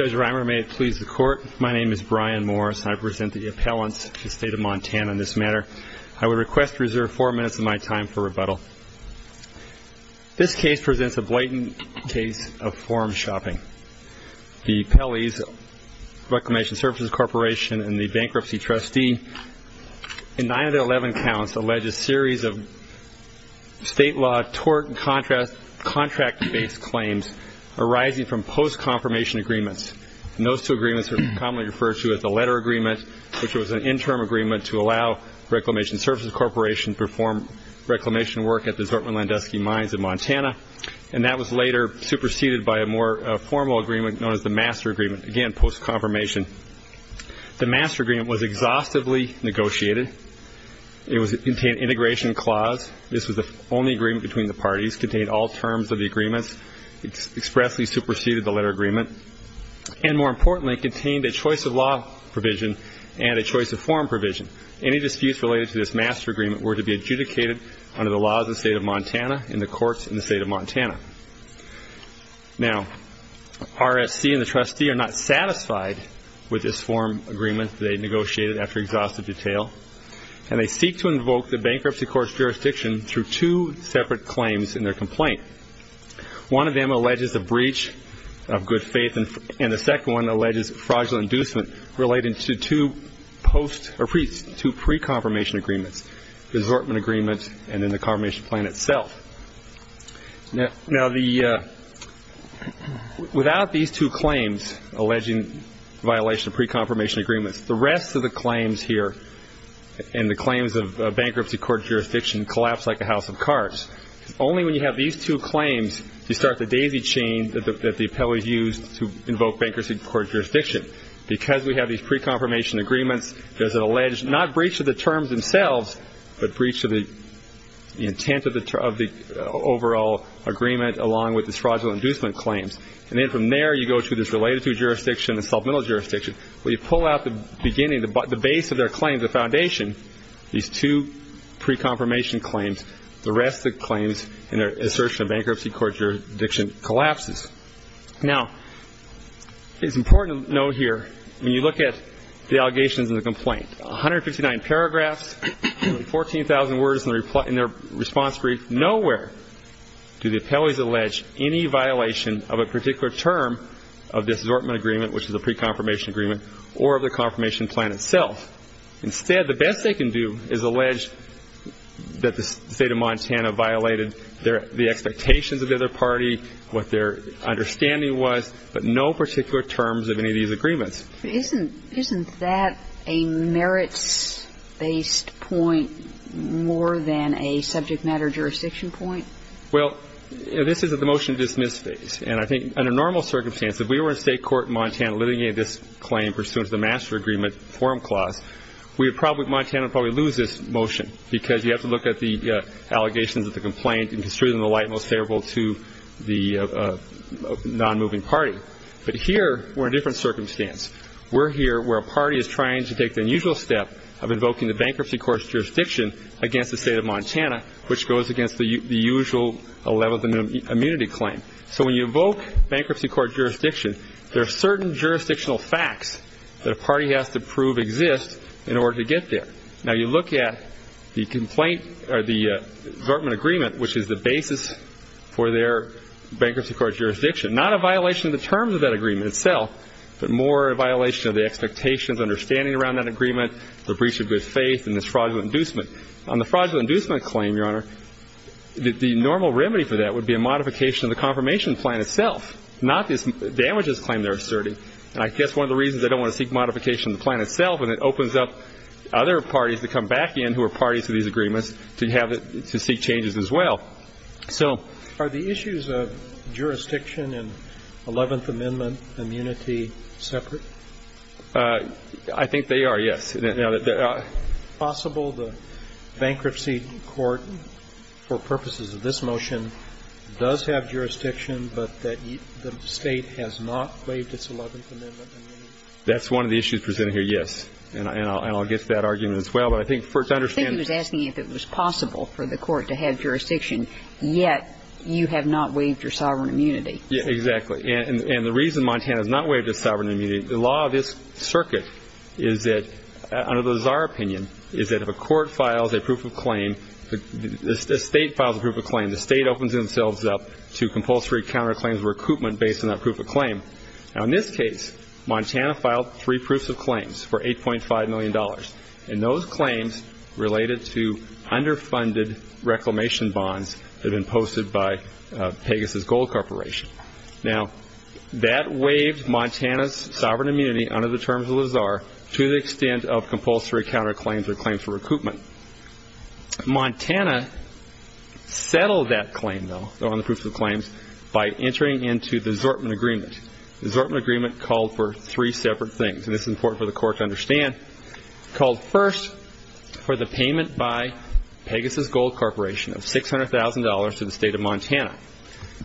Judge Reimer, may it please the Court, my name is Brian Morris and I present the appellants to the State of Montana in this matter. I would request to reserve four minutes of my time for rebuttal. This case presents a blatant case of form-shopping. The Pelley's Reclamation Services Corporation and the bankruptcy trustee, in nine of their eleven counts, alleged a series of state law tort and contract-based claims arising from post-confirmation agreements. Those two agreements were commonly referred to as the Letter Agreement, which was an interim agreement to allow Reclamation Services Corporation to perform reclamation work at the Zortman-Landusky mines in Montana. That was later superseded by a more formal agreement known as the Master Agreement, again post-confirmation. The Master Agreement was exhaustively negotiated. It contained an integration clause. This was the only agreement between the parties. It contained all terms of the agreements. It expressly superseded the Letter Agreement. And more importantly, it contained a choice-of-law provision and a choice-of-form provision. Any disputes related to this Master Agreement were to be adjudicated under the laws of the State of Montana and the courts in the State of Montana. Now, RSC and the trustee are not satisfied with this form of agreement they negotiated after exhaustive detail, and they seek to invoke the bankruptcy court's jurisdiction through two separate claims in their complaint. One of them alleges a breach of good faith, and the second one alleges fraudulent inducement relating to two pre-confirmation agreements, the Zortman Agreement and then the confirmation plan itself. Now, without these two claims alleging violation of pre-confirmation agreements, the rest of the claims here and the claims of bankruptcy court jurisdiction collapse like a house of cards. Only when you have these two claims do you start the daisy chain that the appellees used to invoke bankruptcy court jurisdiction. Because we have these pre-confirmation agreements, there's an alleged not breach of the terms themselves but breach of the intent of the overall agreement along with the fraudulent inducement claims. And then from there you go to this related jurisdiction, the supplemental jurisdiction, where you pull out the beginning, the base of their claim, the foundation, these two pre-confirmation claims. The rest of the claims in their assertion of bankruptcy court jurisdiction collapses. Now, it's important to note here, when you look at the allegations in the complaint, 159 paragraphs, 14,000 words in their response brief, nowhere do the appellees allege any violation of a particular term of this Zortman Agreement, which is a pre-confirmation agreement, or of the confirmation plan itself. Instead, the best they can do is allege that the state of Montana violated the expectations of the other party, what their understanding was, but no particular terms of any of these agreements. Isn't that a merits-based point more than a subject matter jurisdiction point? Well, this is the motion to dismiss phase. And I think under normal circumstances, if we were in state court in Montana litigating this claim, pursuant to the master agreement forum clause, Montana would probably lose this motion because you have to look at the allegations of the complaint and consider them the light most favorable to the non-moving party. But here, we're in a different circumstance. We're here where a party is trying to take the unusual step of invoking the bankruptcy court's jurisdiction against the state of Montana, which goes against the usual level of immunity claim. So when you evoke bankruptcy court jurisdiction, there are certain jurisdictional facts that a party has to prove exist in order to get there. Now, you look at the complaint or the government agreement, which is the basis for their bankruptcy court jurisdiction. Not a violation of the terms of that agreement itself, but more a violation of the expectations, understanding around that agreement, the breach of good faith, and this fraudulent inducement. On the fraudulent inducement claim, Your Honor, the normal remedy for that would be a modification of the confirmation plan itself, not this damages claim they're asserting. And I guess one of the reasons they don't want to seek modification of the plan itself is it opens up other parties to come back in who are parties to these agreements to seek changes as well. So... Are the issues of jurisdiction and 11th Amendment immunity separate? I think they are, yes. Is it possible the bankruptcy court, for purposes of this motion, does have jurisdiction but that the state has not waived its 11th Amendment immunity? That's one of the issues presented here, yes. And I'll get to that argument as well. But I think to understand... I think he was asking if it was possible for the court to have jurisdiction, yet you have not waived your sovereign immunity. Exactly. And the reason Montana has not waived its sovereign immunity, the law of this circuit is that, under the czar opinion, is that if a court files a proof of claim, a state files a proof of claim, the state opens themselves up to compulsory counterclaims or recoupment based on that proof of claim. Now, in this case, Montana filed three proofs of claims for $8.5 million. And those claims related to underfunded reclamation bonds had been posted by Pegasus Gold Corporation. Now, that waived Montana's sovereign immunity under the terms of the czar to the extent of compulsory counterclaims or claims for recoupment. Montana settled that claim, though, on the proofs of claims, by entering into the assortment agreement. The assortment agreement called for three separate things, and this is important for the court to understand. It called first for the payment by Pegasus Gold Corporation of $600,000 to the state of Montana.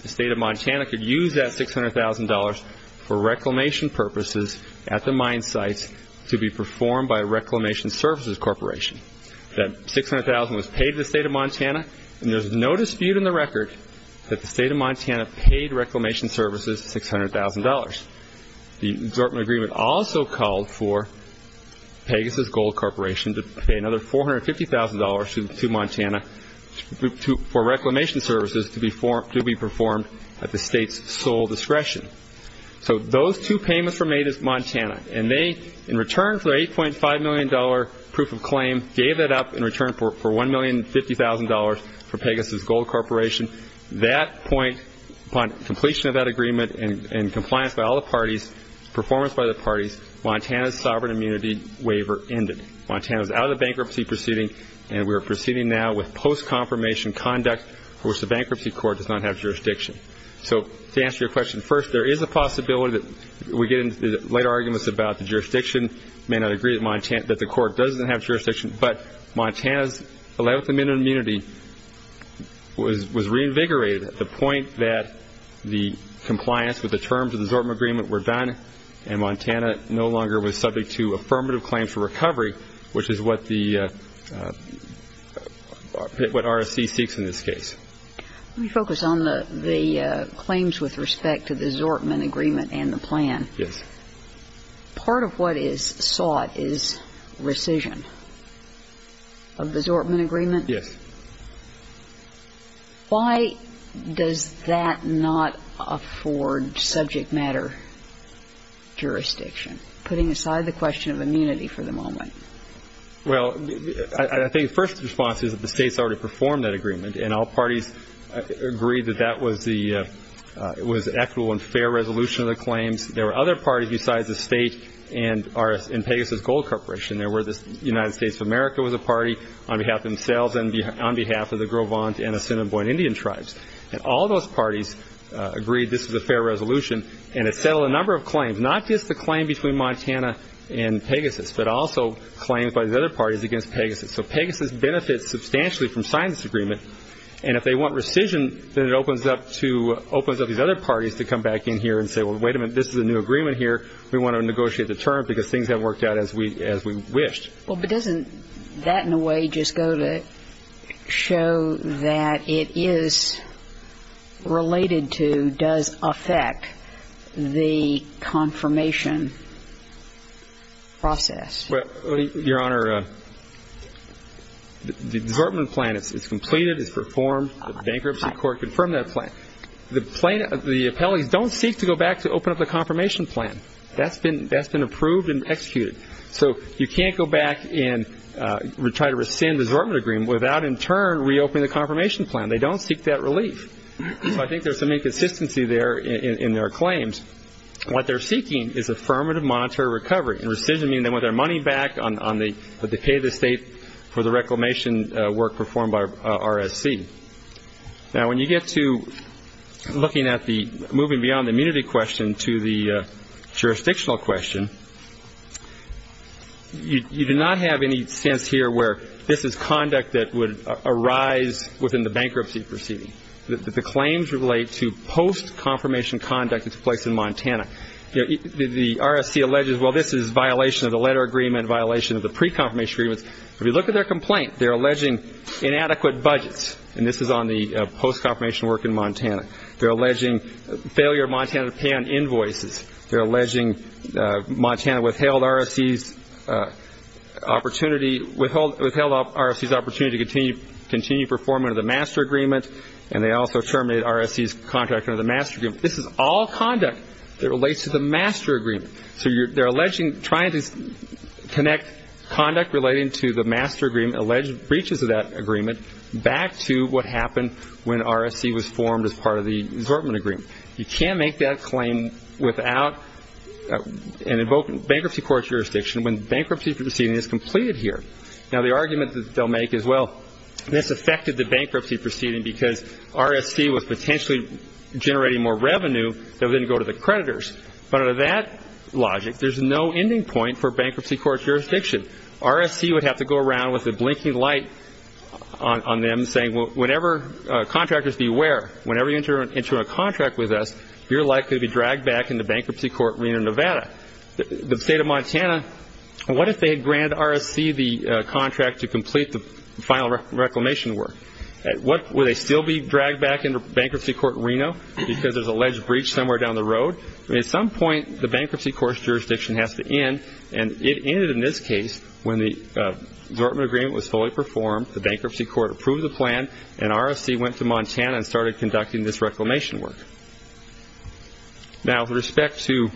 The state of Montana could use that $600,000 for reclamation purposes at the mine sites to be performed by a reclamation services corporation. That $600,000 was paid to the state of Montana, and there's no dispute in the record that the state of Montana paid reclamation services $600,000. The assortment agreement also called for Pegasus Gold Corporation to pay another $450,000 to Montana for reclamation services to be performed at the state's sole discretion. So those two payments were made to Montana, and they, in return for their $8.5 million proof of claim, gave that up in return for $1,050,000 for Pegasus Gold Corporation. That point, upon completion of that agreement and compliance by all the parties, performance by the parties, Montana's sovereign immunity waiver ended. Montana was out of the bankruptcy proceeding, and we are proceeding now with post-confirmation conduct for which the bankruptcy court does not have jurisdiction. So to answer your question, first, there is a possibility that we get into light arguments about the jurisdiction, may not agree that the court doesn't have jurisdiction, but Montana's allowable minimum immunity was reinvigorated at the point that the compliance with the terms of the assortment agreement were done and Montana no longer was subject to affirmative claims for recovery, which is what RSC seeks in this case. Let me focus on the claims with respect to the assortment agreement and the plan. Yes. Part of what is sought is rescission of the assortment agreement. Yes. Why does that not afford subject matter jurisdiction, putting aside the question of immunity for the moment? Well, I think the first response is that the states already performed that agreement, and all parties agreed that that was equitable and fair resolution of the claims. There were other parties besides the state and Pegasus Gold Corporation. There were the United States of America was a party on behalf of themselves and on behalf of the Gros Ventre and Assiniboine Indian tribes, and all those parties agreed this was a fair resolution, and it settled a number of claims, not just the claim between Montana and Pegasus, but also claims by the other parties against Pegasus. So Pegasus benefits substantially from signing this agreement, and if they want rescission then it opens up these other parties to come back in here and say, well, wait a minute, this is a new agreement here. We want to negotiate the term because things haven't worked out as we wished. Well, but doesn't that in a way just go to show that it is related to, does affect the confirmation process? Well, Your Honor, the assortment plan, it's completed, it's performed. The bankruptcy court confirmed that plan. The appellees don't seek to go back to open up the confirmation plan. That's been approved and executed. So you can't go back and try to rescind the assortment agreement without in turn reopening the confirmation plan. They don't seek that relief. So I think there's some inconsistency there in their claims. What they're seeking is affirmative monetary recovery, and rescission means they want their money back on the pay of the state for the reclamation work performed by RSC. Now, when you get to looking at the moving beyond the immunity question to the jurisdictional question, you do not have any sense here where this is conduct that would arise within the bankruptcy proceeding, that the claims relate to post-confirmation conduct that takes place in Montana. The RSC alleges, well, this is violation of the letter agreement, violation of the pre-confirmation agreements. If you look at their complaint, they're alleging inadequate budgets, and this is on the post-confirmation work in Montana. They're alleging failure of Montana to pay on invoices. They're alleging Montana withheld RSC's opportunity to continue performing under the master agreement, and they also terminated RSC's contract under the master agreement. This is all conduct that relates to the master agreement. So they're trying to connect conduct relating to the master agreement, alleged breaches of that agreement, back to what happened when RSC was formed as part of the assortment agreement. You can't make that claim without a bankruptcy court jurisdiction when the bankruptcy proceeding is completed here. Now, the argument that they'll make is, well, this affected the bankruptcy proceeding because RSC was potentially generating more revenue that would then go to the creditors. But under that logic, there's no ending point for bankruptcy court jurisdiction. RSC would have to go around with a blinking light on them saying, well, whenever contractors beware, whenever you enter a contract with us, you're likely to be dragged back into bankruptcy court Reno, Nevada. The state of Montana, what if they had granted RSC the contract to complete the final reclamation work? Would they still be dragged back into bankruptcy court Reno because there's alleged breach somewhere down the road? At some point, the bankruptcy court jurisdiction has to end, and it ended in this case when the assortment agreement was fully performed, the bankruptcy court approved the plan, and RSC went to Montana and started conducting this reclamation work. Now, with respect to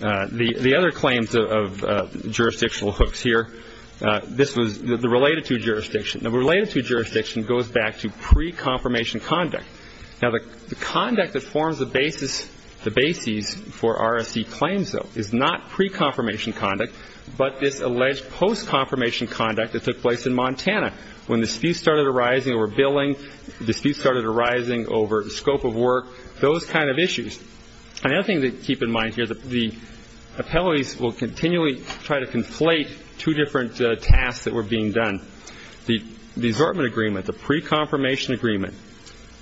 the other claims of jurisdictional hooks here, this was the related to jurisdiction. Now, the related to jurisdiction goes back to pre-confirmation conduct. Now, the conduct that forms the basis for RSC claims, though, is not pre-confirmation conduct, but this alleged post-confirmation conduct that took place in Montana when disputes started arising over billing, disputes started arising over the scope of work, those kind of issues. Another thing to keep in mind here, the appellees will continually try to conflate two different tasks that were being done. The assortment agreement, the pre-confirmation agreement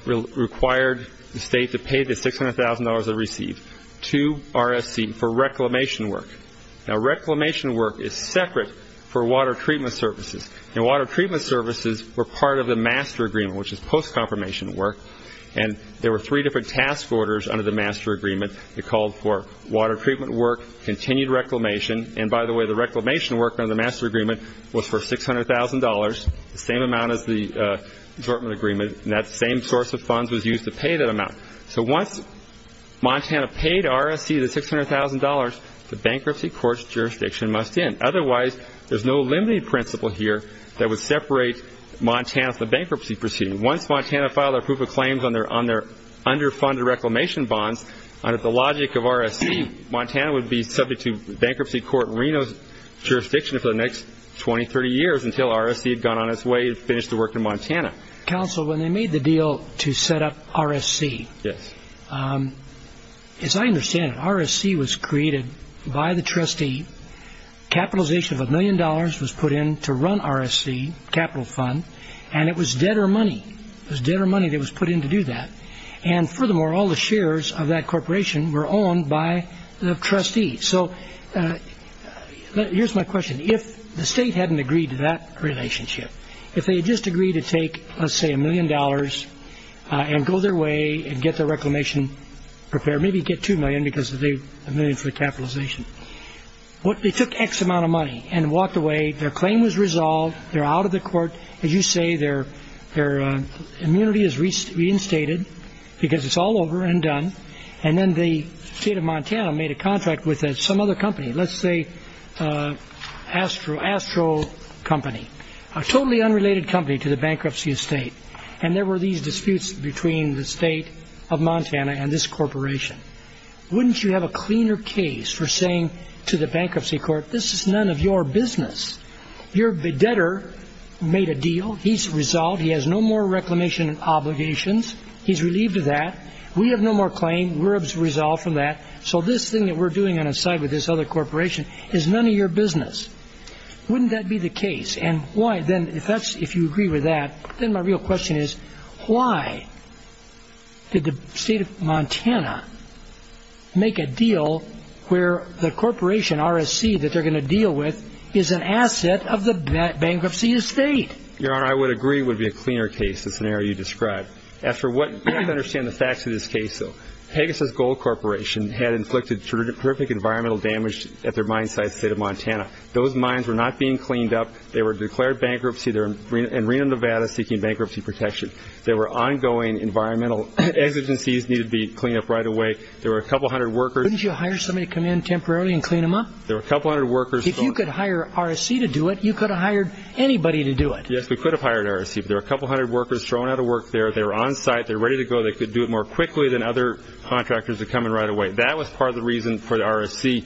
required the state to pay the $600,000 it received to RSC for reclamation work. Now, reclamation work is separate for water treatment services, and water treatment services were part of the master agreement, which is post-confirmation work, and there were three different task orders under the master agreement. They called for water treatment work, continued reclamation, and by the way, the reclamation work under the master agreement was for $600,000, the same amount as the assortment agreement, and that same source of funds was used to pay that amount. So once Montana paid RSC the $600,000, the bankruptcy court's jurisdiction must end. Otherwise, there's no limiting principle here that would separate Montana from the bankruptcy proceeding. Once Montana filed their proof of claims on their underfunded reclamation bonds, under the logic of RSC, Montana would be subject to bankruptcy court Reno's jurisdiction for the next 20, 30 years until RSC had gone on its way to finish the work in Montana. Counsel, when they made the deal to set up RSC, as I understand it, RSC was created by the trustee, capitalization of $1 million was put in to run RSC capital fund, and it was debtor money. It was debtor money that was put in to do that, and furthermore, all the shares of that corporation were owned by the trustee. So here's my question. If the state hadn't agreed to that relationship, if they had just agreed to take, let's say, $1 million and go their way and get the reclamation prepared, maybe get $2 million because of the million for the capitalization, they took X amount of money and walked away, their claim was resolved, they're out of the court. As you say, their immunity is reinstated because it's all over and done, and then the state of Montana made a contract with some other company, let's say Astro Company, a totally unrelated company to the bankruptcy estate, and there were these disputes between the state of Montana and this corporation. Wouldn't you have a cleaner case for saying to the bankruptcy court, this is none of your business. Your debtor made a deal. He's resolved. He has no more reclamation obligations. He's relieved of that. We have no more claim. We're resolved from that. So this thing that we're doing on its side with this other corporation is none of your business. Wouldn't that be the case? If you agree with that, then my real question is why did the state of Montana make a deal where the corporation, RSC, that they're going to deal with is an asset of the bankruptcy estate? Your Honor, I would agree it would be a cleaner case, the scenario you described. You have to understand the facts of this case, though. Pegasus Gold Corporation had inflicted terrific environmental damage at their mine site, the state of Montana. Those mines were not being cleaned up. They were declared bankruptcy in Reno, Nevada, seeking bankruptcy protection. There were ongoing environmental exigencies needed to be cleaned up right away. There were a couple hundred workers. Wouldn't you hire somebody to come in temporarily and clean them up? There were a couple hundred workers. If you could hire RSC to do it, you could have hired anybody to do it. Yes, we could have hired RSC. But there were a couple hundred workers thrown out of work there. They were on site. They were ready to go. They could do it more quickly than other contractors were coming right away. That was part of the reason for the RSC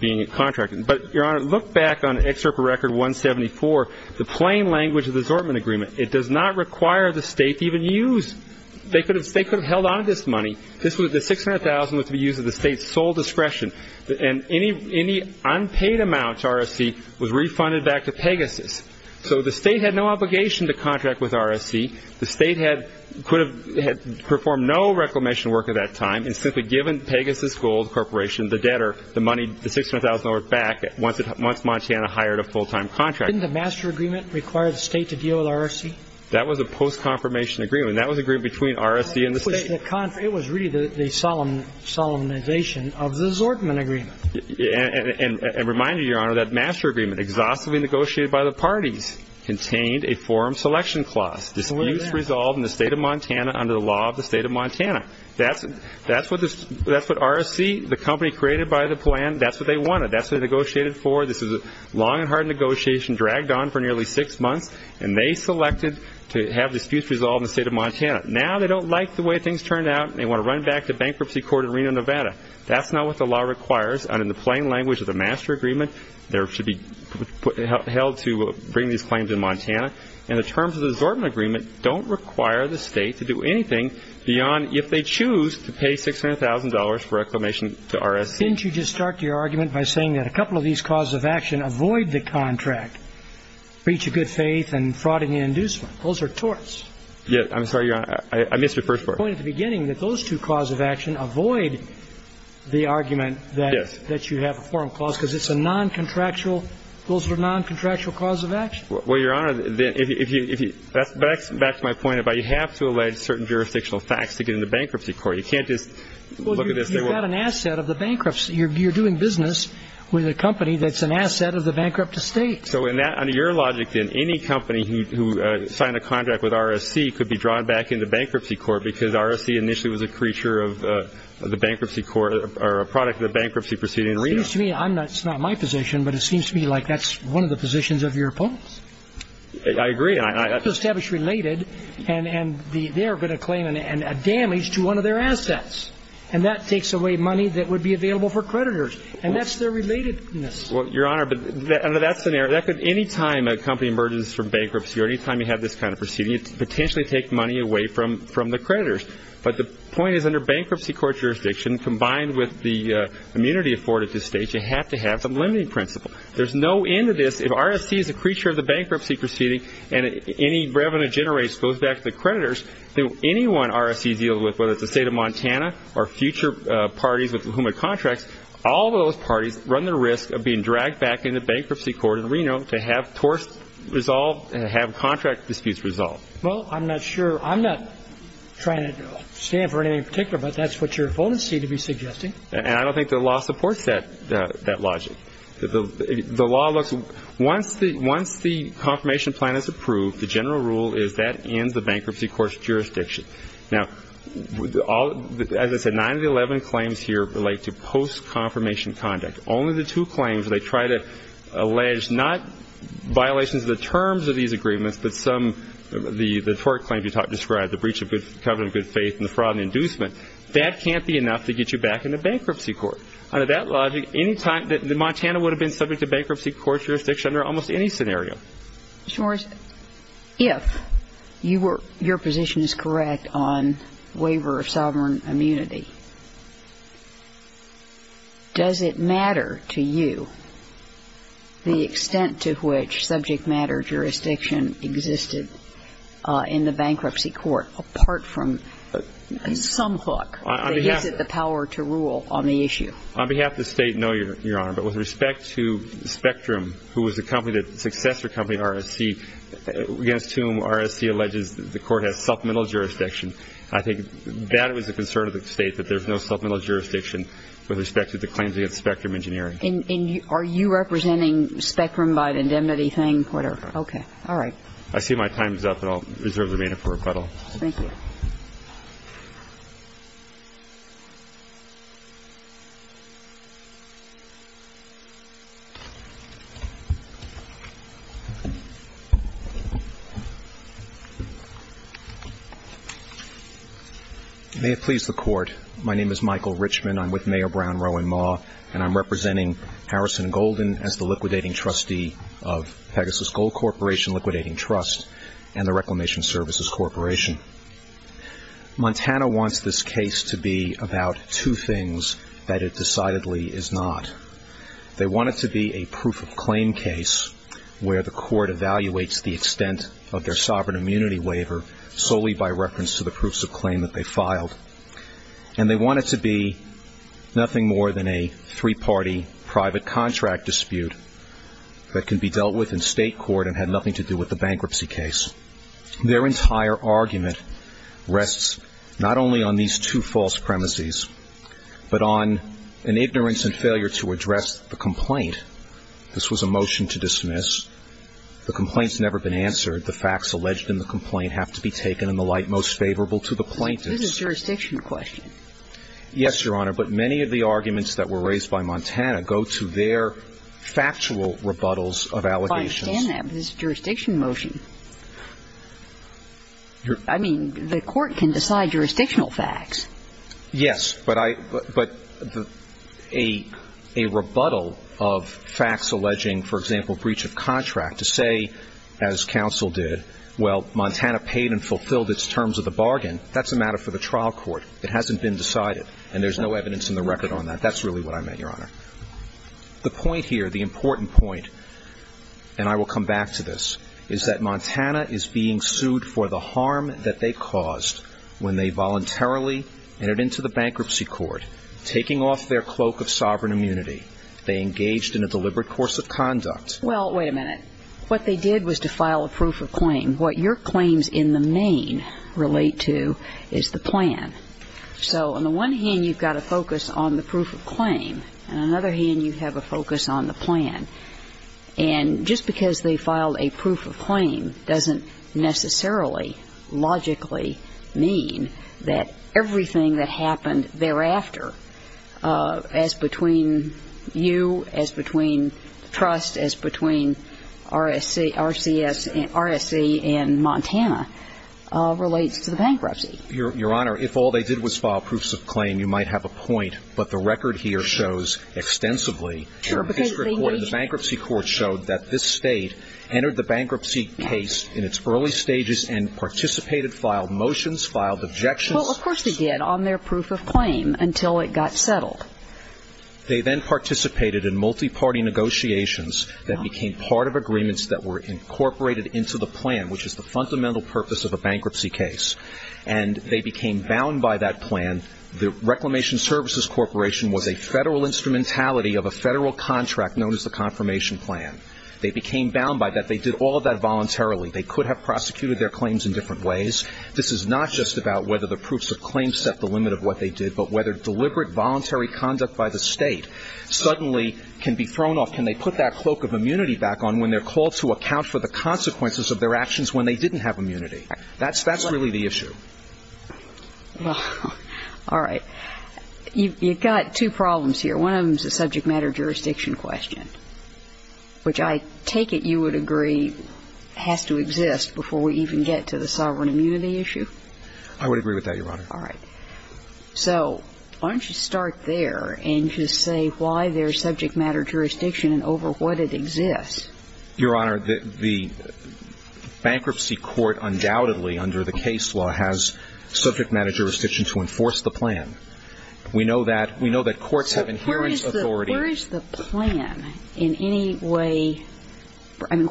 being contracted. But, Your Honor, look back on Excerpt Record 174, the plain language of the assortment agreement. It does not require the state to even use. They could have held on to this money. The $600,000 was to be used at the state's sole discretion, and any unpaid amount to RSC was refunded back to Pegasus. So the state had no obligation to contract with RSC. The state could have performed no reclamation work at that time and simply given Pegasus Gold Corporation the debtor the $600,000 back once Montana hired a full-time contractor. Didn't the master agreement require the state to deal with RSC? That was a post-confirmation agreement. That was an agreement between RSC and the state. It was really the solemnization of the assortment agreement. And remind you, Your Honor, that master agreement exhaustively negotiated by the parties contained a forum selection clause, disputes resolved in the state of Montana under the law of the state of Montana. That's what RSC, the company created by the plan, that's what they wanted. That's what they negotiated for. This was a long and hard negotiation dragged on for nearly six months, and they selected to have disputes resolved in the state of Montana. Now they don't like the way things turned out, and they want to run back to bankruptcy court in Reno, Nevada. That's not what the law requires. And in the plain language of the master agreement, there should be held to bring these claims to Montana. And the terms of the assortment agreement don't require the state to do anything beyond if they choose to pay $600,000 for reclamation to RSC. Didn't you just start your argument by saying that a couple of these causes of action avoid the contract, breach of good faith and fraud and inducement? Those are torts. Yes. I'm sorry, Your Honor. I missed the first part. You pointed at the beginning that those two causes of action avoid the argument that you have a forum clause because it's a noncontractual – those are noncontractual cause of action. Well, Your Honor, if you – back to my point about you have to allege certain jurisdictional facts to get into bankruptcy court. You can't just look at this and say, well – Well, you've got an asset of the bankruptcy. You're doing business with a company that's an asset of the bankrupt estate. So in that – under your logic, then, any company who signed a contract with RSC could be drawn back into bankruptcy court because RSC initially was a creature of the bankruptcy court or a product of the bankruptcy proceeding arena. It seems to me – it's not my position, but it seems to me like that's one of the positions of your opponents. I agree. Establish related and they're going to claim a damage to one of their assets. And that takes away money that would be available for creditors. And that's their relatedness. Well, Your Honor, under that scenario, that could – any time a company emerges from bankruptcy or any time you have this kind of proceeding, it could potentially take money away from the creditors. But the point is, under bankruptcy court jurisdiction, combined with the immunity afforded to states, you have to have some limiting principle. There's no end to this. If RSC is a creature of the bankruptcy proceeding and any revenue generated goes back to the creditors, then anyone RSC deals with, whether it's the state of Montana or future parties with whom it contracts, all those parties run the risk of being dragged back into bankruptcy court in Reno to have torts resolved and have contract disputes resolved. Well, I'm not sure – I'm not trying to stand for anything in particular, but that's what your opponents seem to be suggesting. And I don't think the law supports that logic. The law looks – once the confirmation plan is approved, the general rule is that ends the bankruptcy court's jurisdiction. Now, as I said, 9 of the 11 claims here relate to post-confirmation conduct. Only the two claims they try to allege not violations of the terms of these agreements, but some – the tort claims you described, the breach of covenant of good faith and the fraud and inducement. That can't be enough to get you back into bankruptcy court. Under that logic, any time – Montana would have been subject to bankruptcy court jurisdiction under almost any scenario. Mr. Morris, if you were – your position is correct on waiver of sovereign immunity, does it matter to you the extent to which subject matter jurisdiction existed in the bankruptcy court apart from some hook that gives it the power to rule on the issue? On behalf of the State, no, Your Honor. But with respect to Spectrum, who was the company that – successor company to RSC, against whom RSC alleges the court has supplemental jurisdiction, I think that was a concern of the State, that there's no supplemental jurisdiction with respect to the claims against Spectrum Engineering. And are you representing Spectrum by the indemnity thing, whatever? Okay. All right. I see my time is up, and I'll reserve the remainder for rebuttal. Thank you. May it please the Court. My name is Michael Richman. I'm with Mayor Brown, Roe and Maugh, and I'm representing Harrison Golden as the liquidating trustee of Pegasus Gold Corporation Liquidating Trust and the Reclamation Services Corporation. Montana wants this case to be about two things that it decidedly is not. They want it to be a proof of claim case where the court evaluates the extent of their sovereign immunity waiver solely by reference to the proofs of claim that they filed. And they want it to be nothing more than a three-party private contract dispute that can be dealt with in State court and had nothing to do with the bankruptcy case. Their entire argument rests not only on these two false premises, but on an ignorance and failure to address the complaint. This was a motion to dismiss. The complaint's never been answered. The facts alleged in the complaint have to be taken in the light most favorable to the plaintiffs. This is a jurisdiction question. Yes, Your Honor. But many of the arguments that were raised by Montana go to their factual rebuttals of allegations. I understand that. But it's a jurisdiction motion. I mean, the court can decide jurisdictional facts. Yes, but I – but a rebuttal of facts alleging, for example, breach of contract to say, as counsel did, well, Montana paid and fulfilled its terms of the bargain, that's a matter for the trial court. It hasn't been decided. And there's no evidence in the record on that. That's really what I meant, Your Honor. The point here, the important point, and I will come back to this, is that Montana is being sued for the harm that they caused when they voluntarily entered into the bankruptcy court, taking off their cloak of sovereign immunity. They engaged in a deliberate course of conduct. Well, wait a minute. What they did was to file a proof of claim. What your claims in the main relate to is the plan. So on the one hand, you've got to focus on the proof of claim. On the other hand, you have to focus on the plan. And just because they filed a proof of claim doesn't necessarily logically mean that everything that happened thereafter, as between you, as between Trust, as between RSC and Montana, relates to the bankruptcy. Your Honor, if all they did was file proofs of claim, you might have a point. But the record here shows extensively that the bankruptcy court showed that this state entered the bankruptcy case in its early stages and participated, filed motions, filed objections. Well, of course they did on their proof of claim until it got settled. They then participated in multi-party negotiations that became part of agreements that were incorporated into the plan, which is the fundamental purpose of a bankruptcy case. And they became bound by that plan. The Reclamation Services Corporation was a federal instrumentality of a federal contract known as the confirmation plan. They became bound by that. They did all of that voluntarily. They could have prosecuted their claims in different ways. This is not just about whether the proofs of claim set the limit of what they did, but whether deliberate voluntary conduct by the state suddenly can be thrown off. Can they put that cloak of immunity back on when they're called to account for the consequences of their actions when they didn't have immunity? That's really the issue. Well, all right. You've got two problems here. One of them is a subject matter jurisdiction question, which I take it you would agree has to exist before we even get to the sovereign immunity issue? I would agree with that, Your Honor. All right. So why don't you start there and just say why there's subject matter jurisdiction over what it exists. Your Honor, the bankruptcy court undoubtedly, under the case law, has subject matter jurisdiction to enforce the plan. We know that courts have inherent authority. So where is the plan in any way? I mean,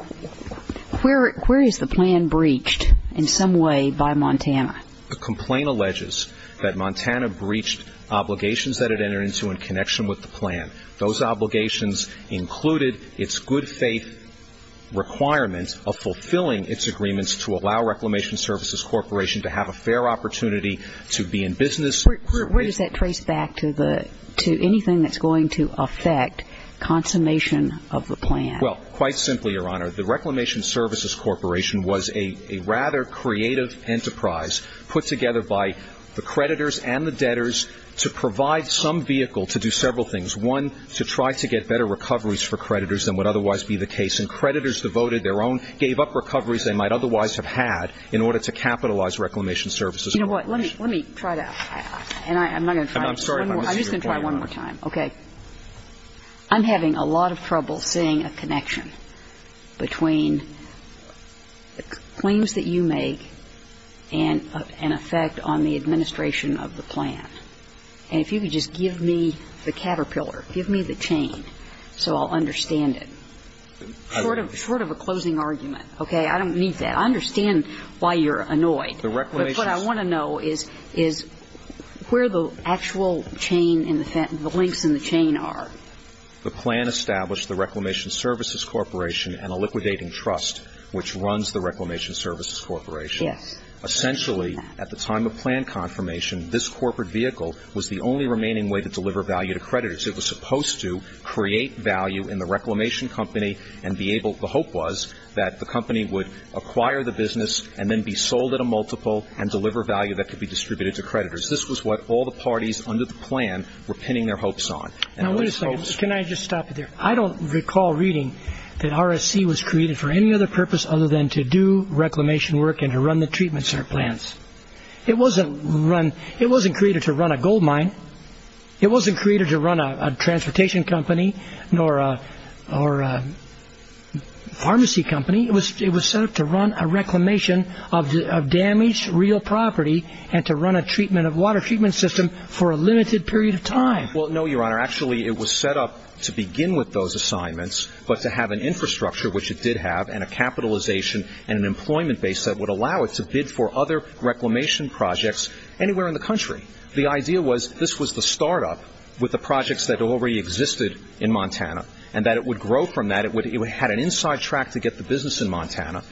where is the plan breached in some way by Montana? The complaint alleges that Montana breached obligations that it entered into in connection with the plan. Those obligations included its good faith requirement of fulfilling its agreements to allow Reclamation Services Corporation to have a fair opportunity to be in business. Where does that trace back to anything that's going to affect consummation of the plan? Well, quite simply, Your Honor, the Reclamation Services Corporation was a rather creative enterprise put together by the creditors and the debtors to provide some vehicle to do several things. One, to try to get better recoveries for creditors than would otherwise be the case. And creditors devoted their own, gave up recoveries they might otherwise have had in order to capitalize Reclamation Services Corporation. You know what? Let me try that. And I'm not going to try it. I'm sorry, but I want to see your point. I'm just going to try it one more time. Okay. I'm having a lot of trouble seeing a connection between the claims that you make and an effect on the administration of the plan. And if you could just give me the caterpillar, give me the chain, so I'll understand it. Short of a closing argument. Okay? I don't need that. I understand why you're annoyed. But what I want to know is where the actual chain and the links in the chain are. The plan established the Reclamation Services Corporation and a liquidating trust which runs the Reclamation Services Corporation. Yes. Essentially, at the time of plan confirmation, this corporate vehicle was the only remaining way to deliver value to creditors. It was supposed to create value in the Reclamation Company and be able, the hope was that the company would acquire the business and then be sold at a multiple and deliver value that could be distributed to creditors. This was what all the parties under the plan were pinning their hopes on. Now, wait a second. Can I just stop it there? I don't recall reading that RSC was created for any other purpose other than to do It wasn't created to run a gold mine. It wasn't created to run a transportation company or a pharmacy company. It was set up to run a reclamation of damaged real property and to run a water treatment system for a limited period of time. Well, no, Your Honor. Actually, it was set up to begin with those assignments but to have an infrastructure, which it did have, and a capitalization and an employment base that would allow it to bid for other reclamation projects anywhere in the country. The idea was this was the startup with the projects that already existed in Montana and that it would grow from that. It had an inside track to get the business in Montana.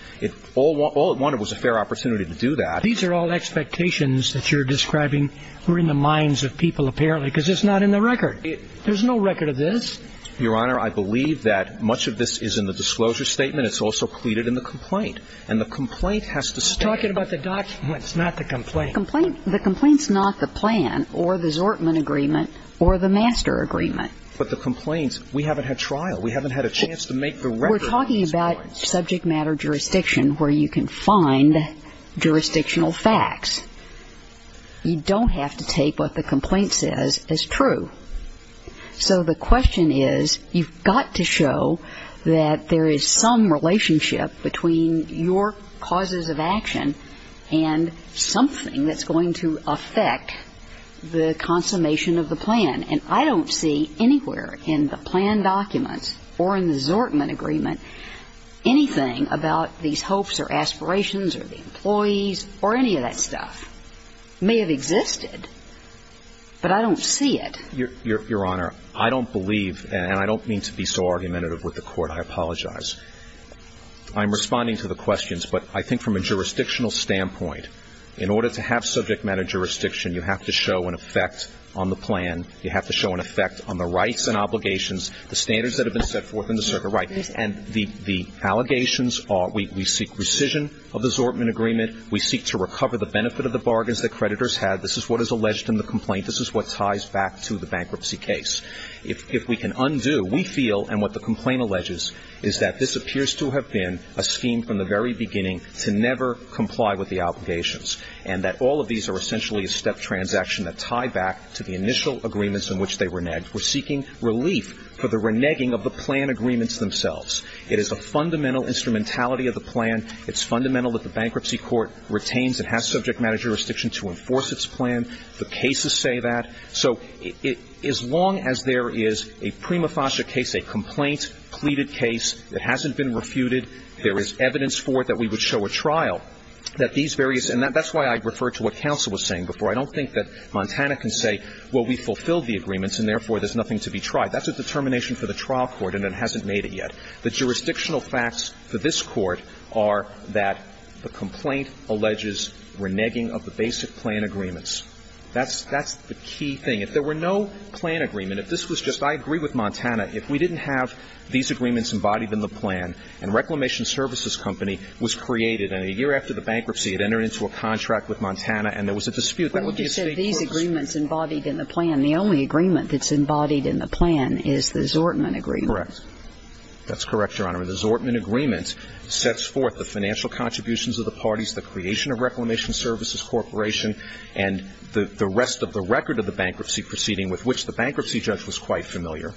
All it wanted was a fair opportunity to do that. These are all expectations that you're describing were in the minds of people apparently because it's not in the record. There's no record of this. Your Honor, I believe that much of this is in the disclosure statement. It's also pleaded in the complaint. And the complaint has to stay. You're talking about the document. It's not the complaint. The complaint's not the plan or the Zortman agreement or the master agreement. But the complaint, we haven't had trial. We haven't had a chance to make the record. We're talking about subject matter jurisdiction where you can find jurisdictional facts. You don't have to take what the complaint says as true. So the question is you've got to show that there is some relationship between your causes of action and something that's going to affect the consummation of the plan. And I don't see anywhere in the plan documents or in the Zortman agreement anything about these hopes or aspirations or the employees or any of that stuff. It may have existed, but I don't see it. Your Honor, I don't believe, and I don't mean to be so argumentative with the Court. I apologize. I'm responding to the questions. But I think from a jurisdictional standpoint, in order to have subject matter jurisdiction, you have to show an effect on the plan. You have to show an effect on the rights and obligations, the standards that have been set forth in the circuit right. And the allegations are we seek rescission of the Zortman agreement. We seek to recover the benefit of the bargains that creditors had. This is what is alleged in the complaint. This is what ties back to the bankruptcy case. If we can undo, we feel, and what the complaint alleges, is that this appears to have been a scheme from the very beginning to never comply with the obligations and that all of these are essentially a step transaction that tied back to the initial agreements in which they were negged. We're seeking relief for the reneging of the plan agreements themselves. It is a fundamental instrumentality of the plan. It's fundamental that the bankruptcy court retains and has subject matter jurisdiction to enforce its plan. The cases say that. So as long as there is a prima facie case, a complaint-pleaded case that hasn't been refuted, there is evidence for it that we would show a trial, that these various – and that's why I referred to what counsel was saying before. I don't think that Montana can say, well, we fulfilled the agreements and, therefore, there's nothing to be tried. That's a determination for the trial court and it hasn't made it yet. The jurisdictional facts for this Court are that the complaint alleges reneging of the basic plan agreements. That's the key thing. If there were no plan agreement, if this was just – I agree with Montana. If we didn't have these agreements embodied in the plan and Reclamation Services Company was created and a year after the bankruptcy it entered into a contract with Montana and there was a dispute, that would be a state court's – Well, you said these agreements embodied in the plan. The only agreement that's embodied in the plan is the Zortman agreement. Correct. That's correct, Your Honor. The Zortman agreement sets forth the financial contributions of the parties, the creation of Reclamation Services Corporation and the rest of the record of the bankruptcy proceeding with which the bankruptcy judge was quite familiar,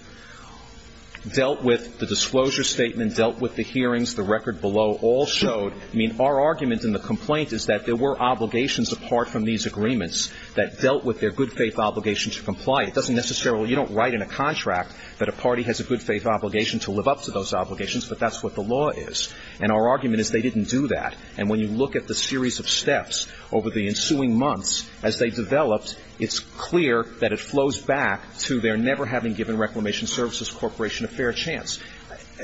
dealt with the disclosure statement, dealt with the hearings. The record below all showed – I mean, our argument in the complaint is that there were obligations apart from these agreements that dealt with their good faith obligation to comply. It doesn't necessarily – you don't write in a contract that a party has a good faith obligation to live up to those obligations, but that's what the law is. And our argument is they didn't do that. And when you look at the series of steps over the ensuing months as they developed, it's clear that it flows back to their never having given Reclamation Services Corporation a fair chance.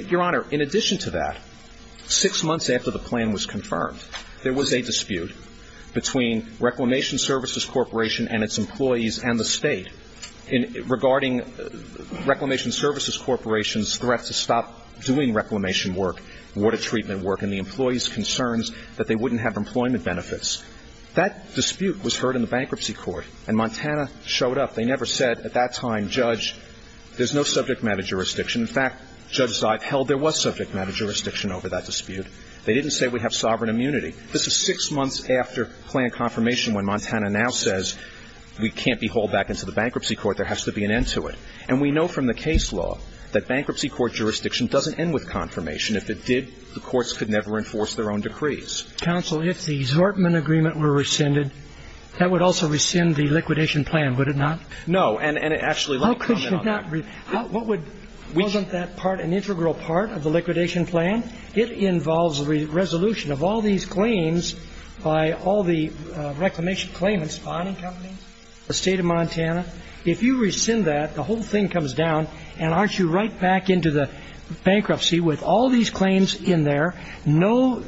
Your Honor, in addition to that, six months after the plan was confirmed, there was a dispute between Reclamation Services Corporation and its employees and the State regarding Reclamation Services Corporation's threat to stop doing reclamation work, water treatment work, and the employees' concerns that they wouldn't have employment benefits. That dispute was heard in the bankruptcy court, and Montana showed up. They never said at that time, Judge, there's no subject matter jurisdiction. In fact, Judge Zeib held there was subject matter jurisdiction over that dispute. They didn't say we have sovereign immunity. This is six months after plan confirmation when Montana now says we can't be hauled back into the bankruptcy court. There has to be an end to it. And we know from the case law that bankruptcy court jurisdiction doesn't end with confirmation. If it did, the courts could never enforce their own decrees. Counsel, if the Zortman agreement were rescinded, that would also rescind the liquidation plan, would it not? No, and actually let me comment on that. How could you not? Wasn't that part an integral part of the liquidation plan? It involves the resolution of all these claims by all the reclamation claimants, the bonding companies, the State of Montana. If you rescind that, the whole thing comes down, and aren't you right back into the bankruptcy with all these claims in there, no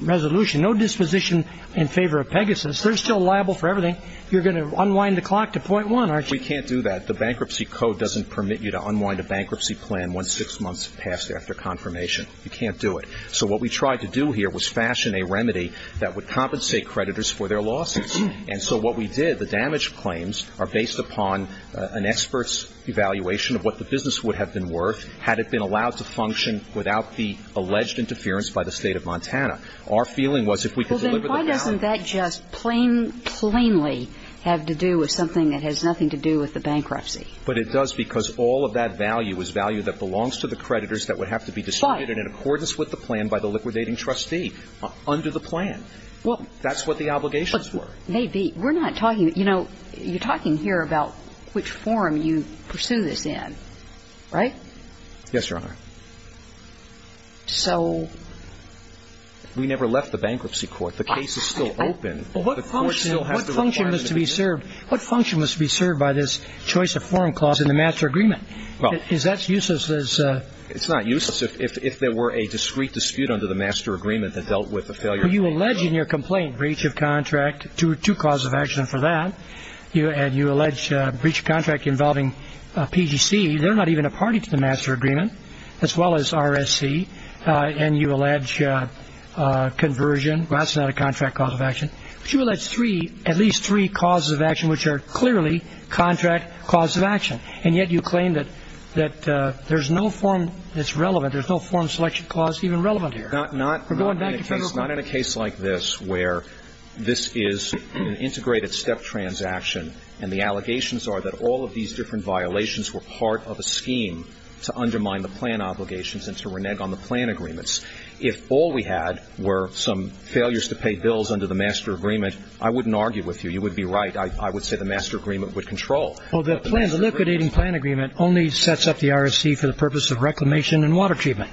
resolution, no disposition in favor of Pegasus. They're still liable for everything. You're going to unwind the clock to .1, aren't you? We can't do that. The bankruptcy code doesn't permit you to unwind a bankruptcy plan once six months have passed after confirmation. You can't do it. So what we tried to do here was fashion a remedy that would compensate creditors for their losses. And so what we did, the damage claims are based upon an expert's evaluation of what the business would have been worth had it been allowed to function without the alleged interference by the State of Montana. Our feeling was if we could deliver the balance. Well, then why doesn't that just plainly have to do with something that has nothing to do with the bankruptcy? But it does because all of that value is value that belongs to the creditors that would have to be distributed in accordance with the plan by the liquidating trustee under the plan. Well, that's what the obligations were. Maybe. We're not talking, you know, you're talking here about which forum you pursue this in, right? Yes, Your Honor. So? We never left the bankruptcy court. The case is still open. But what function must be served? What function must be served by this choice of forum clause in the master agreement? Well. Is that useless as a? It's not useless if there were a discrete dispute under the master agreement that dealt with the failure. You allege in your complaint breach of contract to cause of action for that. And you allege breach of contract involving PGC. They're not even a party to the master agreement, as well as RSC. And you allege conversion. Well, that's not a contract cause of action. But you allege three, at least three causes of action which are clearly contract cause of action. And yet you claim that there's no forum that's relevant. There's no forum selection clause even relevant here. Not in a case like this where this is an integrated step transaction. And the allegations are that all of these different violations were part of a scheme to undermine the plan obligations and to renege on the plan agreements. If all we had were some failures to pay bills under the master agreement, I wouldn't argue with you. You would be right. I would say the master agreement would control. Well, the liquidating plan agreement only sets up the RSC for the purpose of reclamation and water treatment.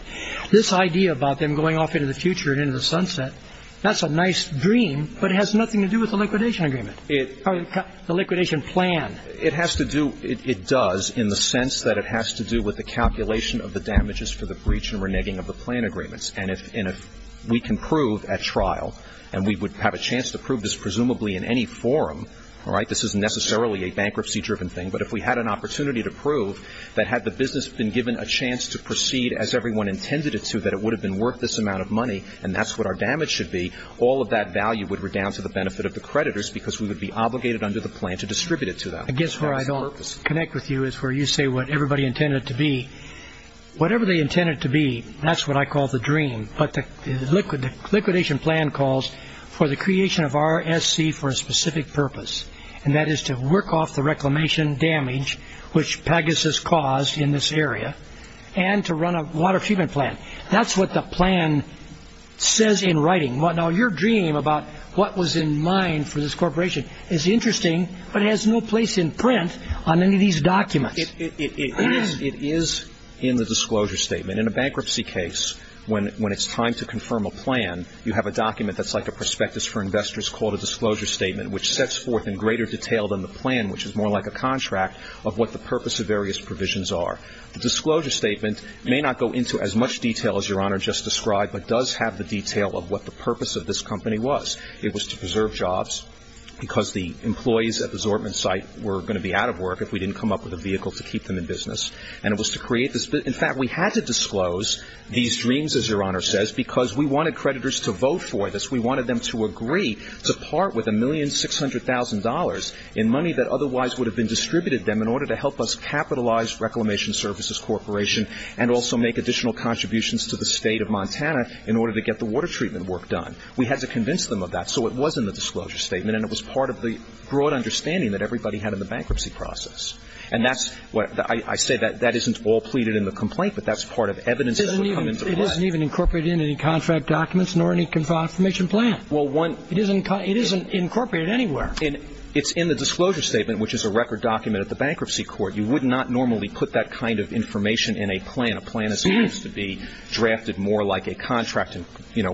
This idea about them going off into the future and into the sunset, that's a nice dream, but it has nothing to do with the liquidation agreement. The liquidation plan. It has to do, it does, in the sense that it has to do with the calculation of the damages for the breach and reneging of the plan agreements. And if we can prove at trial, and we would have a chance to prove this presumably in any forum, all right, this isn't necessarily a bankruptcy-driven thing. But if we had an opportunity to prove that had the business been given a chance to proceed as everyone intended it to, that it would have been worth this amount of money and that's what our damage should be, all of that value would redound to the benefit of the creditors because we would be obligated under the plan to distribute it to them. I guess where I don't connect with you is where you say what everybody intended it to be. Whatever they intended it to be, that's what I call the dream. But the liquidation plan calls for the creation of RSC for a specific purpose, and that is to work off the reclamation damage which Pegasus caused in this area and to run a water treatment plant. That's what the plan says in writing. Now, your dream about what was in mind for this corporation is interesting, but it has no place in print on any of these documents. It is in the disclosure statement. In a bankruptcy case, when it's time to confirm a plan, you have a document that's like a prospectus for investors called a disclosure statement, which sets forth in greater detail than the plan, which is more like a contract, of what the purpose of various provisions are. The disclosure statement may not go into as much detail as your Honor just described, but does have the detail of what the purpose of this company was. It was to preserve jobs because the employees at the Zortman site were going to be out of work if we didn't come up with a vehicle to keep them in business, and it was to create this. In fact, we had to disclose these dreams, as your Honor says, because we wanted creditors to vote for this. We wanted them to agree to part with $1,600,000 in money that otherwise would have been distributed to them in order to help us capitalize Reclamation Services Corporation and also make additional contributions to the State of Montana in order to get the water treatment work done. We had to convince them of that, so it was in the disclosure statement, and it was part of the broad understanding that everybody had in the bankruptcy process. And that's what I say, that isn't all pleaded in the complaint, but that's part of evidence that would come into play. It isn't even incorporated in any contract documents nor any confirmation plan. It isn't incorporated anywhere. It's in the disclosure statement, which is a record document at the bankruptcy court. You would not normally put that kind of information in a plan. A plan is supposed to be drafted more like a contract and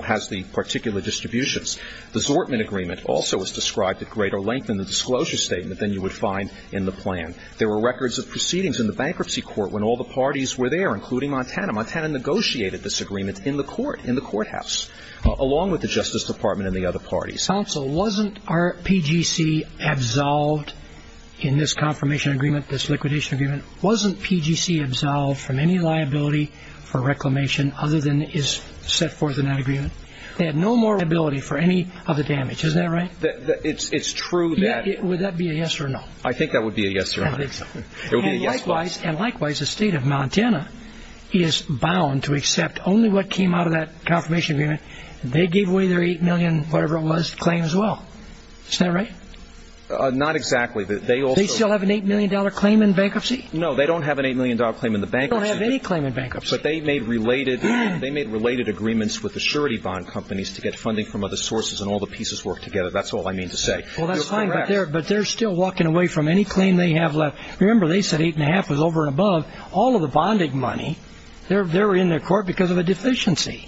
has the particular distributions. The Zortman agreement also is described at greater length in the disclosure statement than you would find in the plan. There were records of proceedings in the bankruptcy court when all the parties were there, including Montana. Montana negotiated this agreement in the court, in the courthouse, along with the Justice Department and the other parties. Counsel, wasn't our PGC absolved in this confirmation agreement, this liquidation agreement? Wasn't PGC absolved from any liability for reclamation other than is set forth in that agreement? They had no more liability for any of the damage. Isn't that right? It's true. Would that be a yes or no? I think that would be a yes or no. It would be a yes. Likewise, the state of Montana is bound to accept only what came out of that confirmation agreement. They gave away their $8 million whatever it was claim as well. Isn't that right? Not exactly. They still have an $8 million claim in bankruptcy? No, they don't have an $8 million claim in the bankruptcy. They don't have any claim in bankruptcy. But they made related agreements with the surety bond companies to get funding from other sources and all the pieces work together. That's all I mean to say. Well, that's fine. But they're still walking away from any claim they have left. Remember, they said $8.5 was over and above. All of the bonding money, they're in their court because of a deficiency.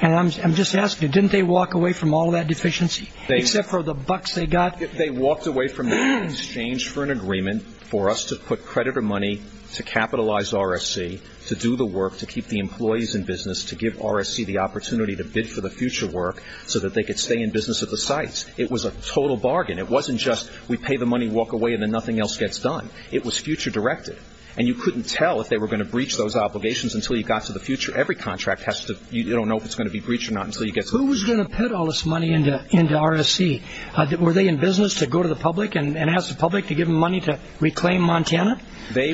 And I'm just asking, didn't they walk away from all that deficiency except for the bucks they got? They walked away from the exchange for an agreement for us to put credit or money to capitalize RSC, to do the work, to keep the employees in business, to give RSC the opportunity to bid for the future work so that they could stay in business at the sites. It was a total bargain. It wasn't just we pay the money, walk away, and then nothing else gets done. It was future directed. And you couldn't tell if they were going to breach those obligations until you got to the future. Every contract has to be, you don't know if it's going to be breached or not until you get to the future. Who was going to put all this money into RSC? Were they in business to go to the public and ask the public to give them money to reclaim Montana? There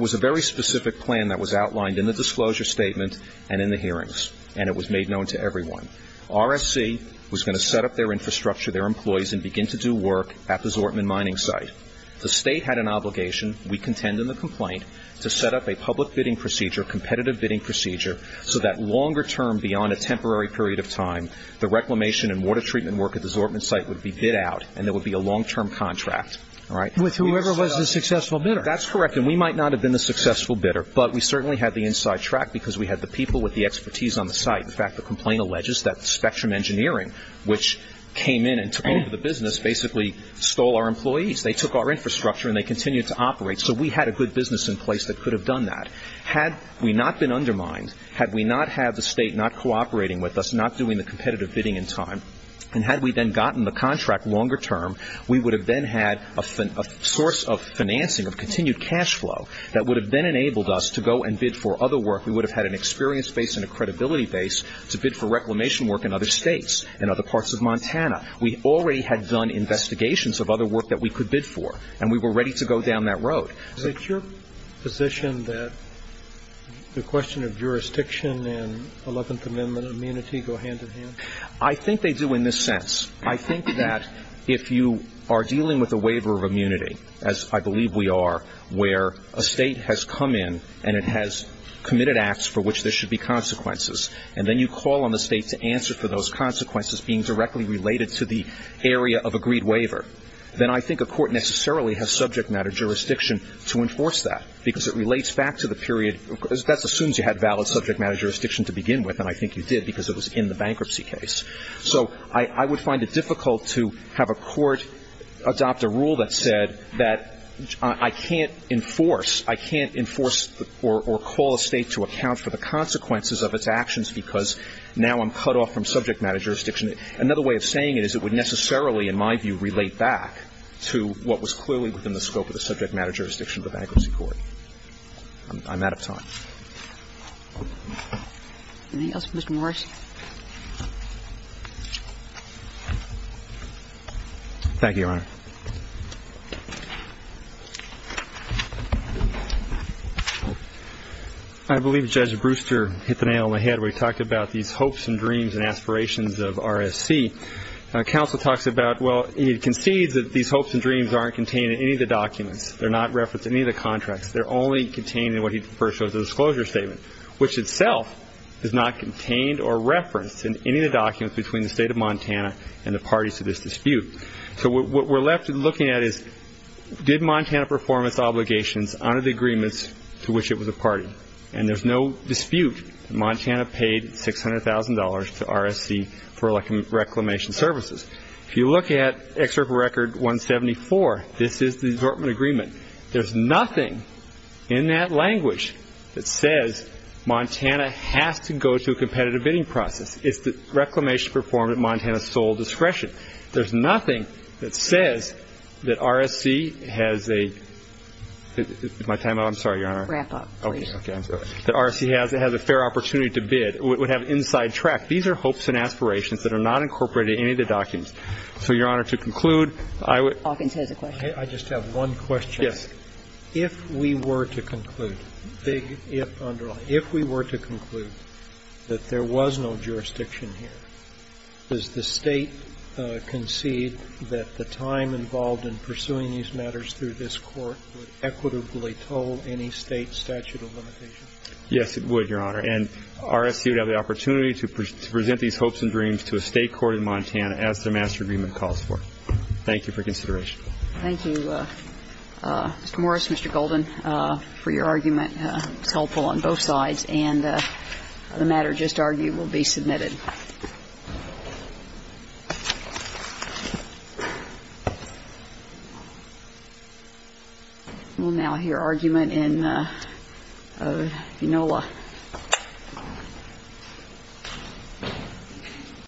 was a very specific plan that was outlined in the disclosure statement and in the hearings. And it was made known to everyone. RSC was going to set up their infrastructure, their employees, and begin to do work at the Zortman mining site. The state had an obligation, we contend in the complaint, to set up a public bidding procedure, competitive bidding procedure, so that longer term beyond a temporary period of time, the reclamation and water treatment work at the Zortman site would be bid out and there would be a long-term contract. With whoever was the successful bidder. That's correct. And we might not have been the successful bidder, but we certainly had the inside track because we had the people with the expertise on the site. In fact, the complaint alleges that Spectrum Engineering, which came in and took over the business, basically stole our employees. They took our infrastructure and they continued to operate. So we had a good business in place that could have done that. Had we not been undermined, had we not had the state not cooperating with us, not doing the competitive bidding in time, and had we then gotten the contract longer term, we would have then had a source of financing of continued cash flow that would have then enabled us to go and bid for other work. We would have had an experience base and a credibility base to bid for reclamation work in other states. In other parts of Montana. We already had done investigations of other work that we could bid for. And we were ready to go down that road. Is it your position that the question of jurisdiction and 11th Amendment immunity go hand in hand? I think they do in this sense. I think that if you are dealing with a waiver of immunity, as I believe we are, where a state has come in and it has committed acts for which there should be consequences, and then you call on the state to answer for those consequences being directly related to the area of agreed waiver, then I think a court necessarily has subject matter jurisdiction to enforce that because it relates back to the period. That assumes you had valid subject matter jurisdiction to begin with, and I think you did because it was in the bankruptcy case. So I would find it difficult to have a court adopt a rule that said that I can't enforce, I can't enforce or call a state to account for the consequences of its actions because now I'm cut off from subject matter jurisdiction. Another way of saying it is it would necessarily, in my view, relate back to what was clearly within the scope of the subject matter jurisdiction of the bankruptcy court. I'm out of time. Thank you, Your Honor. I believe Judge Brewster hit the nail on the head when he talked about these hopes and dreams and aspirations of RSC. Counsel talks about, well, he concedes that these hopes and dreams aren't contained in any of the documents. They're not referenced in any of the contracts. They're only contained in what he refers to as a disclosure statement, which itself is not contained or referenced in any of the documents between the state of Montana and the parties to this dispute. So what we're left looking at is did Montana perform its obligations under the agreements to which it was a party? And there's no dispute that Montana paid $600,000 to RSC for reclamation services. If you look at Excerpt of Record 174, this is the assortment agreement. There's nothing in that language that says Montana has to go to a competitive bidding process. It's that reclamation performed at Montana's sole discretion. There's nothing that says that RSC has a – is my time up? I'm sorry, Your Honor. Wrap up, please. Okay. I'm sorry. That RSC has a fair opportunity to bid, would have inside track. These are hopes and aspirations that are not incorporated in any of the documents. So, Your Honor, to conclude, I would – Hawkins has a question. I just have one question. Yes. If we were to conclude, big if underline, if we were to conclude that there was no jurisdiction here, does the State concede that the time involved in pursuing these matters through this Court would equitably toll any State statute of limitations? Yes, it would, Your Honor. And RSC would have the opportunity to present these hopes and dreams to a State court in Montana as the master agreement calls for. Thank you for consideration. Thank you, Mr. Morris, Mr. Golden, for your argument. It's helpful on both sides. And the matter just argued will be submitted. We'll now hear argument in – of Enola.